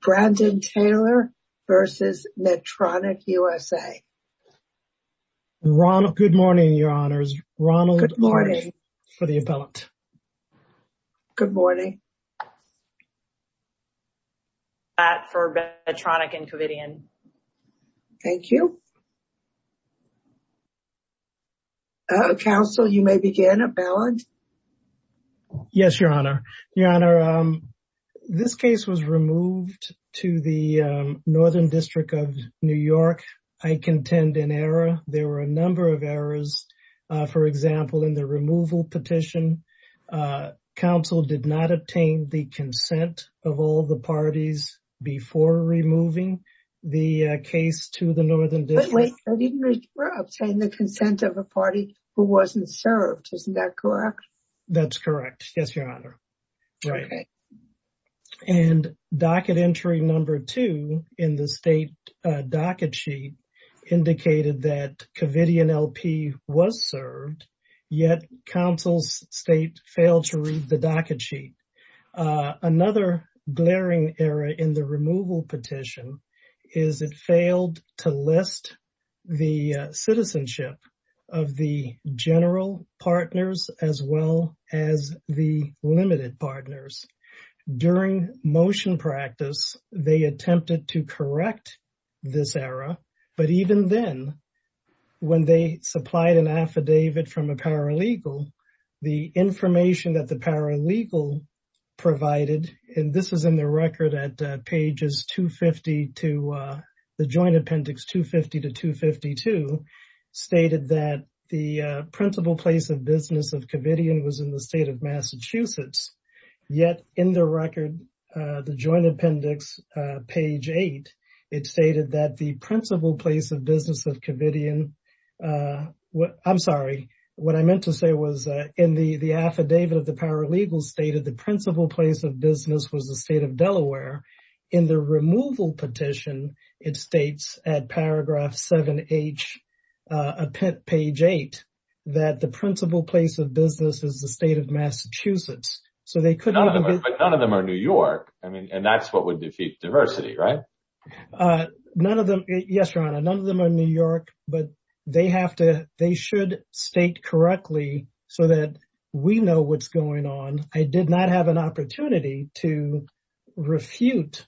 Brandon Taylor v. Medtronic, U.S.A. Good morning, Your Honors. Ronald Orange for the appellant. Good morning. Pat for Medtronic, Inc. Thank you. Counsel, you may begin, appellant. Yes, Your Honor. Your Honor, this case was removed to the Northern District of New York. I contend an error. There were a number of errors. For example, in the removal petition, counsel did not obtain the consent of all the parties before removing the case to the Northern District. Wait, wait, wait. I didn't read, obtained the consent of a party who wasn't served. Isn't that correct? That's correct. Yes, Your Honor. Right. And docket entry number two in the state docket sheet indicated that Covidian LP was served, yet counsel's state failed to read the docket sheet. Another glaring error in the removal petition is it failed to list the citizenship of the general partners as well as the limited partners. During motion practice, they attempted to correct this error, but even then, when they supplied an affidavit from a paralegal, the information that the paralegal provided, and this is in the record at pages 250 to the joint appendix 250 to 252, stated that the principal place of business of Covidian was in the state of Massachusetts. Yet in the record, the joint appendix, page eight, it stated that the principal place of business of Covidian, I'm sorry, what I meant to say was in the affidavit of the paralegal stated the principal place of business was the state of Delaware. In the removal petition, it states at paragraph 7H, page eight, that the principal place of business is the state of Massachusetts. But none of them are New York, and that's what would defeat diversity, right? None of them, yes, Your Honor, none of them are New York, but they have to, they should state correctly so that we know what's going on. I did not have an opportunity to refute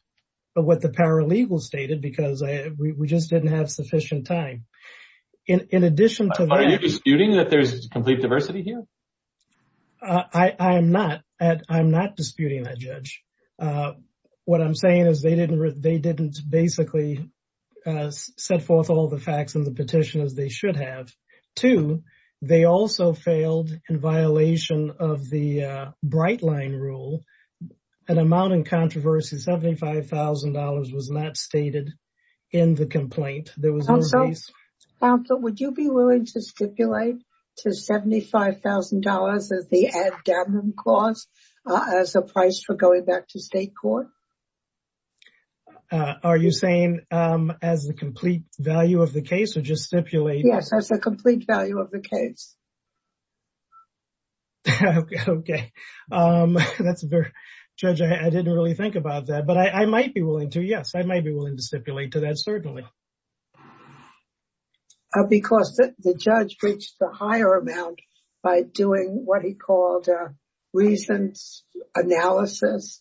what the paralegal stated because we just didn't have sufficient time. In addition to that- Are you disputing that there's complete diversity here? I am not. I'm not disputing that, Judge. What I'm saying is they didn't basically set forth all the facts in the petition as they should have. Two, they also failed in violation of the Bright Line Rule. An amount in controversy, $75,000, was not stated in the complaint. Counsel, would you be willing to stipulate to $75,000 as the ad damnum cost as a price for going back to state court? Are you saying as the complete value of the case or just stipulate- Yes, as a complete value of the case. Okay. That's very- Judge, I didn't really think about that. But I might be willing to. Yes, I might be willing to stipulate to that, certainly. Because the judge breached the higher amount by doing what he called a reasons analysis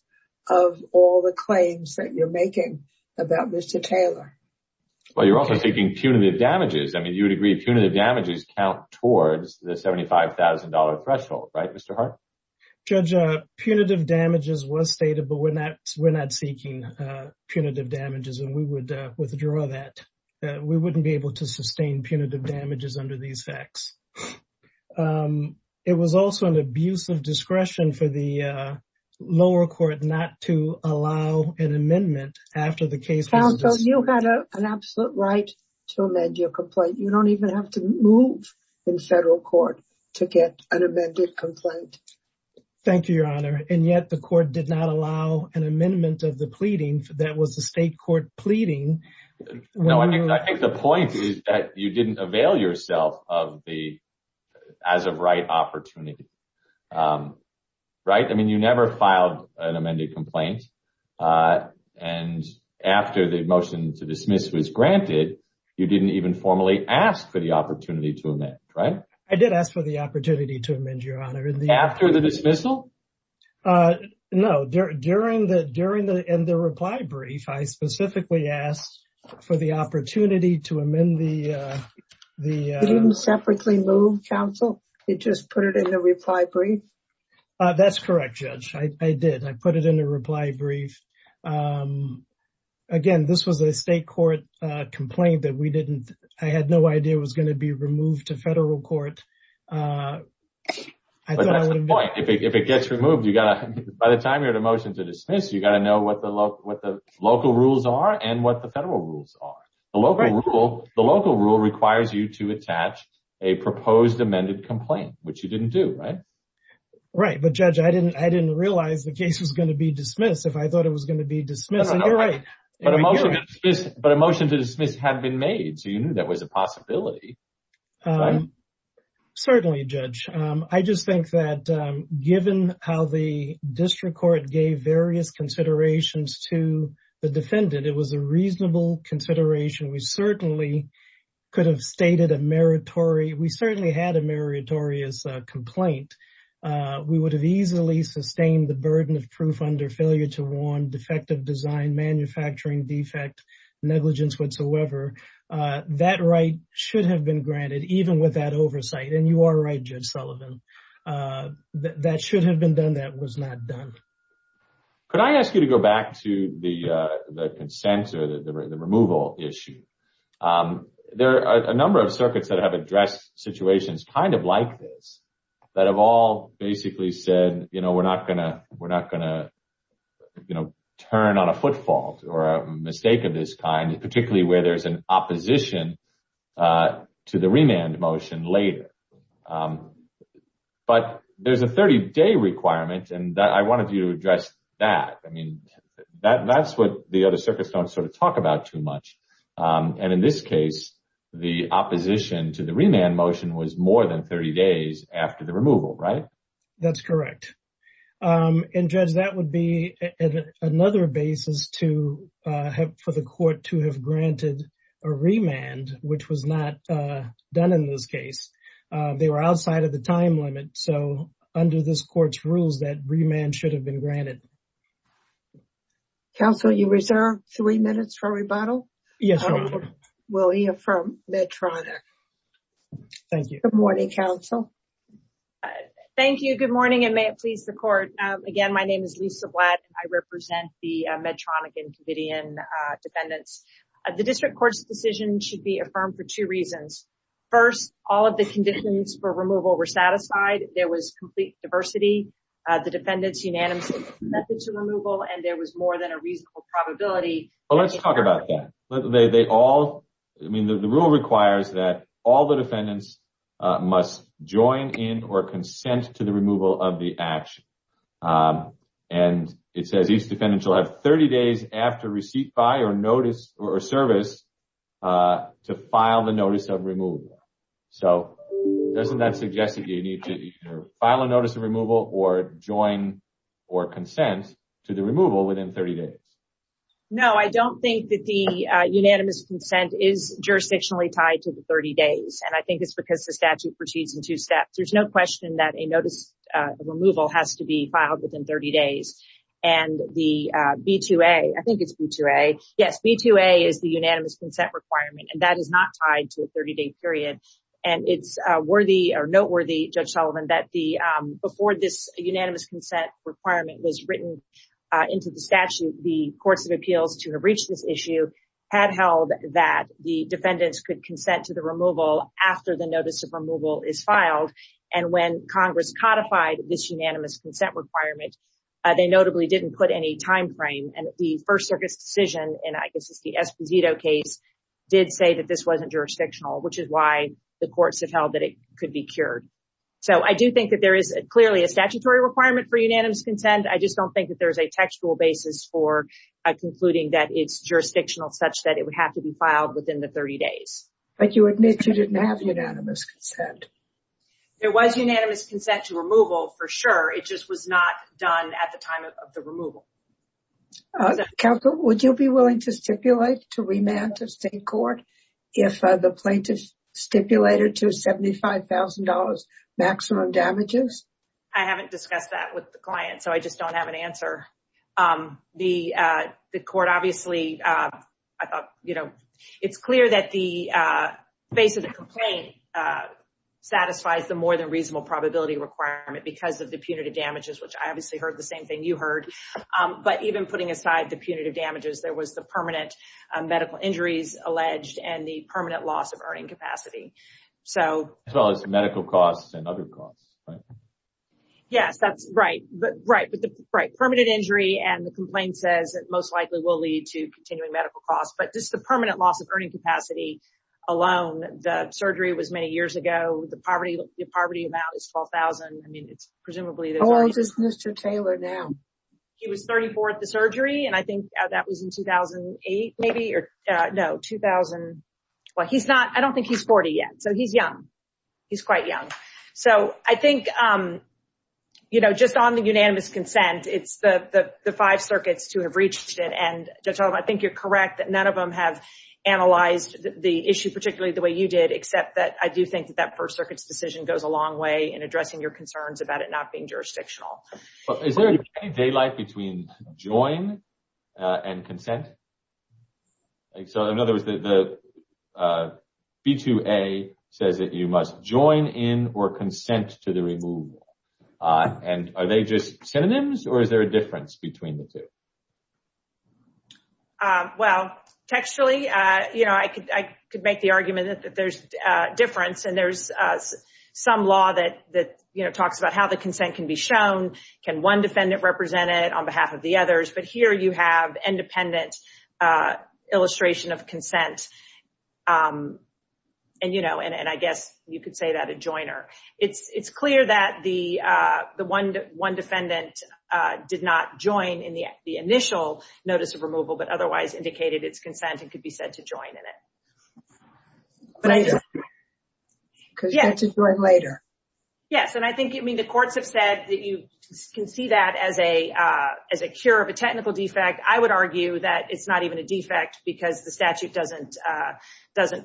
of all the claims that you're making about Mr. Taylor. Well, you're also taking punitive damages. I mean, you would agree punitive damages count towards the $75,000 threshold, right, Mr. Hart? Judge, punitive damages was stated, but we're not seeking punitive damages and we would withdraw that. We wouldn't be able to sustain punitive damages under these facts. It was also an abuse of discretion for the lower court not to allow an amendment after the case- Counsel, you had an absolute right to amend your complaint. You don't even have to move in federal court to get an amended complaint. Thank you, Your Honor. And yet the court did not allow an amendment of the pleading that was the state court pleading. No, I think the point is that you didn't avail yourself of the as-of-right opportunity, right? I mean, you never filed an amended complaint. And after the motion to dismiss was granted, you didn't even formally ask for the opportunity to amend, right? I did ask for the opportunity to amend, Your Honor. After the dismissal? No, during the reply brief, I specifically asked for the opportunity to amend the- You didn't separately move, Counsel? You just put it in the reply brief? That's correct, Judge. I did. I put it in the reply brief. Again, this was a state court complaint that we didn't- I had no idea it was going to be removed to federal court. But that's the point. If it gets removed, you got to- By the time you're at a motion to dismiss, you got to know what the local rules are and what the federal rules are. The local rule requires you to attach a proposed amended complaint, which you didn't do, right? Right, but Judge, I didn't realize the case was going to be dismissed if I thought it was going to be dismissed. You're right. But a motion to dismiss had been made, so you knew that was a possibility, right? Certainly, Judge. I just think that given how the district court gave various considerations to the defendant, it was a reasonable consideration. We certainly could have stated a meritorious complaint. We would have easily sustained the burden of proof under failure to warn, defective design, manufacturing defect, negligence whatsoever. That right should have been granted, even with that oversight. And you are right, Judge Sullivan. That should have been done. That was not done. Could I ask you to go back to the consent or the removal issue? There are a number of circuits that have addressed situations kind of like this that have all basically said, we're not going to turn on a footfall or a mistake of this kind, particularly where there's an opposition to the remand motion later. But there's a 30-day requirement, and I wanted you to address that. I mean, that's what the other circuits don't sort of talk about too much. And in this case, the opposition to the remand motion was more than 30 days after the removal, right? That's correct. And Judge, that would be another basis for the court to have granted a remand, which was not done in this case. They were outside of the time limit. So under this court's rules, that remand should have been granted. Counsel, you reserve three minutes for rebuttal? Yes, Your Honor. Will he affirm Medtronic? Thank you. Good morning, counsel. Thank you. Good morning, and may it please the court. Again, my name is Lisa Blatt. I represent the Medtronic and Covidian defendants. The district court's decision should be affirmed for two reasons. First, all of the conditions for removal were satisfied. There was complete diversity. The defendants unanimously consented to removal, and there was more than a reasonable probability. Well, let's talk about that. I mean, the rule requires that all the defendants must join in or consent to the removal of the action. And it says each defendant shall have 30 days after receipt by or notice or service to file the notice of removal. So doesn't that suggest that you need to either file a notice of removal or join or consent to the removal within 30 days? No, I don't think that the unanimous consent is jurisdictionally tied to the 30 days, and I think it's because the statute proceeds in two steps. There's no question that a notice of removal has to be filed within 30 days. And the B-2A, I think it's B-2A. Yes, B-2A is the unanimous consent requirement, and that is not tied to a 30-day period. And it's worthy or noteworthy, Judge Sullivan, that before this unanimous consent requirement was written into the statute, the courts of appeals to have reached this issue had held that the defendants could consent to the removal after the notice of removal is filed. And when Congress codified this unanimous consent requirement, they notably didn't put any timeframe. And the First Circuit's decision, and I guess it's the Esposito case, did say that this wasn't jurisdictional, which is why the courts have held that it could be cured. So I do think that there is clearly a statutory requirement for unanimous consent. I just don't think that there's a textual basis for concluding that it's jurisdictional such that it would have to be filed within the 30 days. But you admit you didn't have unanimous consent. There was unanimous consent to removal, for sure. It just was not done at the time of the removal. Counsel, would you be willing to stipulate to remand to state court if the plaintiff stipulated to $75,000 maximum damages? I haven't discussed that with the client, so I just don't have an answer. The court obviously, I thought, you know, it's clear that the basis of the complaint satisfies the more than reasonable probability requirement because of the punitive damages, which I obviously heard the same thing you heard. But even putting aside the punitive damages, there was the permanent medical injuries alleged and the permanent loss of earning capacity. As well as medical costs and other costs. Yes, that's right. But right. Permanent injury and the complaint says it most likely will lead to continuing medical costs. But just the permanent loss of earning capacity alone. The surgery was many years ago. The poverty amount is $12,000. I mean, it's presumably. How old is Mr. Taylor now? He was 34 at the surgery, and I think that was in 2008, maybe. No, 2000. Well, he's not. I don't think he's 40 yet, so he's young. He's quite young. So I think, you know, just on the unanimous consent, it's the five circuits to have reached it. And I think you're correct that none of them have analyzed the issue, particularly the way you did, except that I do think that that First Circuit's decision goes a long way in addressing your concerns about it not being jurisdictional. Is there any daylight between join and consent? So in other words, the B2A says that you must join in or consent to the removal. And are they just synonyms or is there a difference between the two? Well, textually, you know, I could make the argument that there's a difference, and there's some law that, you know, talks about how the consent can be shown. Can one defendant represent it on behalf of the others? But here you have independent illustration of consent, and, you know, and I guess you could say that a joiner. It's clear that the one defendant did not join in the initial notice of removal, but otherwise indicated its consent and could be said to join in it. Could be said to join later. Yes, and I think, I mean, the courts have said that you can see that as a cure of a technical defect. I would argue that it's not even a defect because the statute doesn't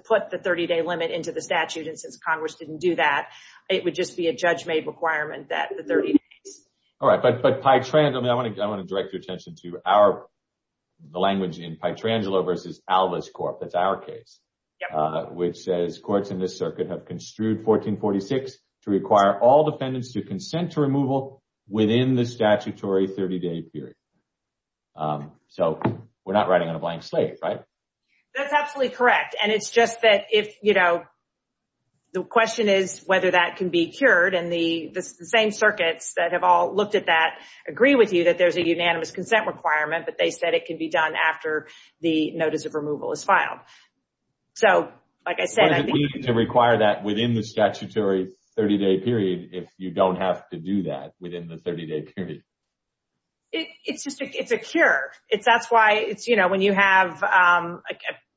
put the 30-day limit into the statute. And since Congress didn't do that, it would just be a judge-made requirement that the 30 days. All right, but I want to direct your attention to our language in Pytrangelo v. Alvis Corp. That's our case, which says courts in this circuit have construed 1446 to require all defendants to consent to removal within the statutory 30-day period. So we're not riding on a blank slate, right? That's absolutely correct. And it's just that if, you know, the question is whether that can be cured. And the same circuits that have all looked at that agree with you that there's a unanimous consent requirement, but they said it can be done after the notice of removal is filed. So, like I said, I think. To require that within the statutory 30-day period if you don't have to do that within the 30-day period. It's just a cure. That's why it's, you know, when you have,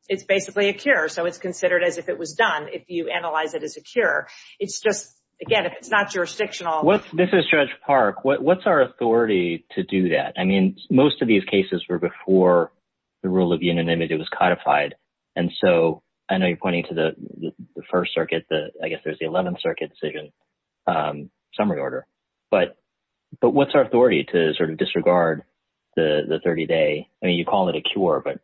it's basically a cure. So it's considered as if it was done if you analyze it as a cure. It's just, again, if it's not jurisdictional. This is Judge Park. What's our authority to do that? I mean, most of these cases were before the rule of unanimity was codified. And so I know you're pointing to the first circuit. I guess there's the 11th Circuit decision summary order. But what's our authority to sort of disregard the 30-day? I mean, you call it a cure, but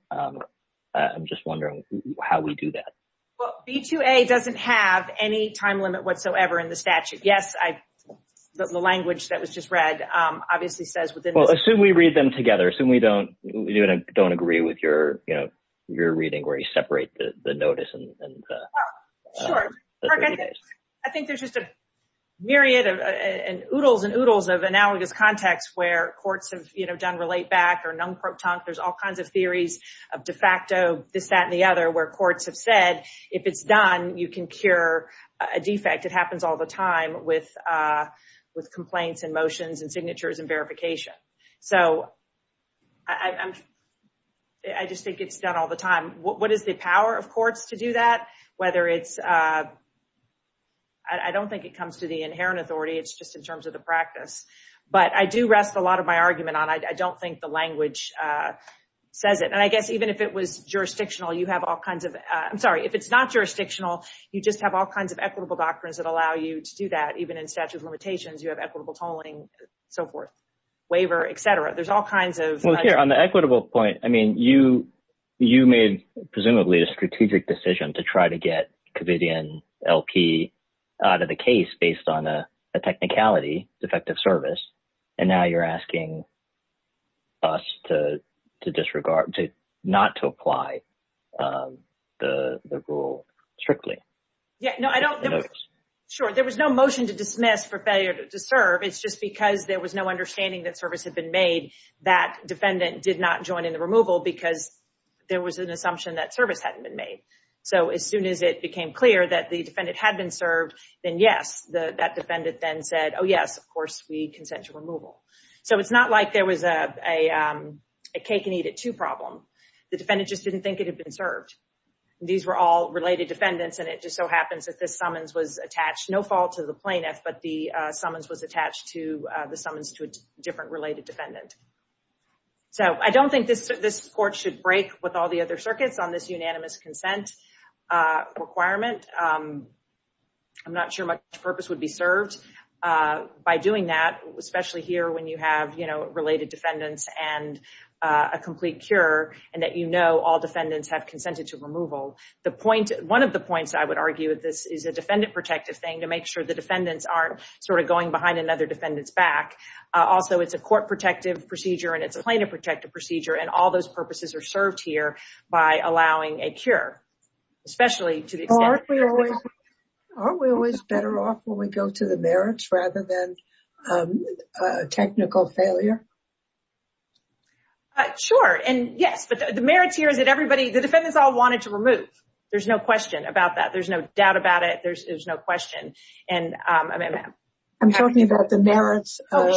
I'm just wondering how we do that. Well, B2A doesn't have any time limit whatsoever in the statute. Yes, the language that was just read obviously says within the statute. Well, assume we read them together. Assume we don't agree with your reading where you separate the notice and the 30 days. Sure. I think there's just a myriad and oodles and oodles of analogous context where courts have done relate-back or non-protonc. There's all kinds of theories of de facto, this, that, and the other, where courts have said if it's done, you can cure a defect. It happens all the time with complaints and motions and signatures and verification. So I just think it's done all the time. What is the power of courts to do that? Whether it's – I don't think it comes to the inherent authority. It's just in terms of the practice. But I do rest a lot of my argument on I don't think the language says it. And I guess even if it was jurisdictional, you have all kinds of – I'm sorry. If it's not jurisdictional, you just have all kinds of equitable doctrines that allow you to do that. Even in statute of limitations, you have equitable tolling, so forth, waiver, et cetera. There's all kinds of – Well, here, on the equitable point, I mean you made presumably a strategic decision to try to get Covidian LP out of the case based on a technicality, defective service, and now you're asking us to disregard – not to apply the rule strictly. Yeah, no, I don't – sure. There was no motion to dismiss for failure to serve. It's just because there was no understanding that service had been made, that defendant did not join in the removal because there was an assumption that service hadn't been made. So as soon as it became clear that the defendant had been served, then yes. That defendant then said, oh, yes, of course we consent to removal. So it's not like there was a cake-and-eat-it-too problem. The defendant just didn't think it had been served. These were all related defendants, and it just so happens that this summons was attached, no fault to the plaintiff, but the summons was attached to the summons to a different related defendant. So I don't think this court should break with all the other circuits on this unanimous consent requirement. I'm not sure much purpose would be served by doing that, especially here when you have related defendants and a complete cure and that you know all defendants have consented to removal. One of the points I would argue with this is a defendant-protective thing to make sure the defendants aren't sort of going behind another defendant's back. Also, it's a court-protective procedure, and it's a plaintiff-protective procedure, and all those purposes are served here by allowing a cure, especially to the extent— Aren't we always better off when we go to the merits rather than technical failure? Sure, and yes, but the merits here is that everybody—the defendants all wanted to remove. There's no question about that. There's no doubt about it. There's no question. I'm talking about the merits of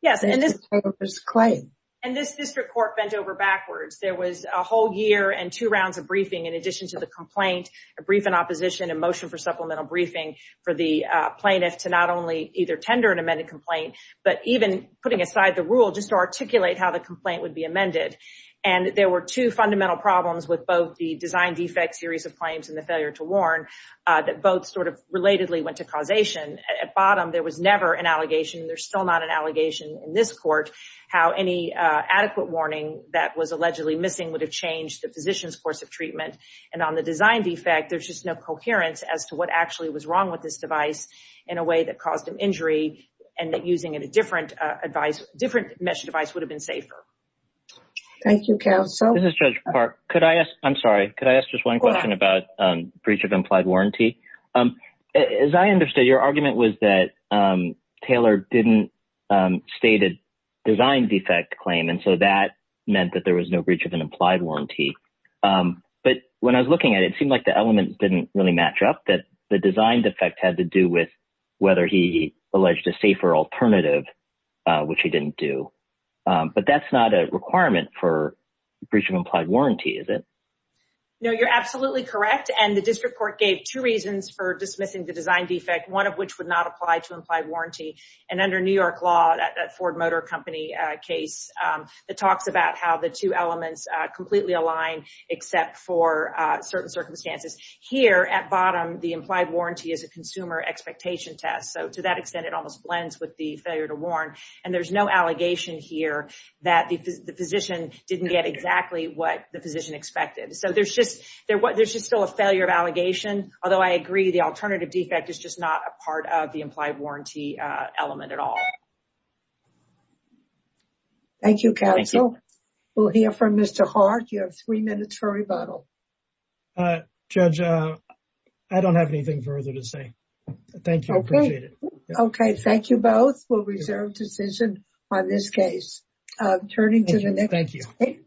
the plaintiff's claim. And this district court bent over backwards. There was a whole year and two rounds of briefing in addition to the complaint, a briefing opposition, a motion for supplemental briefing for the plaintiff to not only either tender an amended complaint, but even putting aside the rule just to articulate how the complaint would be amended. And there were two fundamental problems with both the design defect series of claims and the failure to warn that both sort of relatedly went to causation. At bottom, there was never an allegation. There's still not an allegation in this court how any adequate warning that was allegedly missing would have changed the physician's course of treatment. And on the design defect, there's just no coherence as to what actually was wrong with this device in a way that caused an injury and that using a different mesh device would have been safer. Thank you, counsel. This is Judge Park. I'm sorry, could I ask just one question about breach of implied warranty? As I understood, your argument was that Taylor didn't state a design defect claim, and so that meant that there was no breach of an implied warranty. But when I was looking at it, it seemed like the elements didn't really match up, that the design defect had to do with whether he alleged a safer alternative, which he didn't do. But that's not a requirement for breach of implied warranty, is it? No, you're absolutely correct. And the district court gave two reasons for dismissing the design defect, one of which would not apply to implied warranty. And under New York law, that Ford Motor Company case, it talks about how the two elements completely align except for certain circumstances. Here at bottom, the implied warranty is a consumer expectation test. So to that extent, it almost blends with the failure to warn. And there's no allegation here that the physician didn't get exactly what the physician expected. So there's just still a failure of allegation, although I agree the alternative defect is just not a part of the implied warranty element at all. Thank you, counsel. We'll hear from Mr. Hart. You have three minutes for rebuttal. Judge, I don't have anything further to say. Thank you. I appreciate it. Okay, thank you both. We'll reserve decision on this case. Turning to the next. Thank you.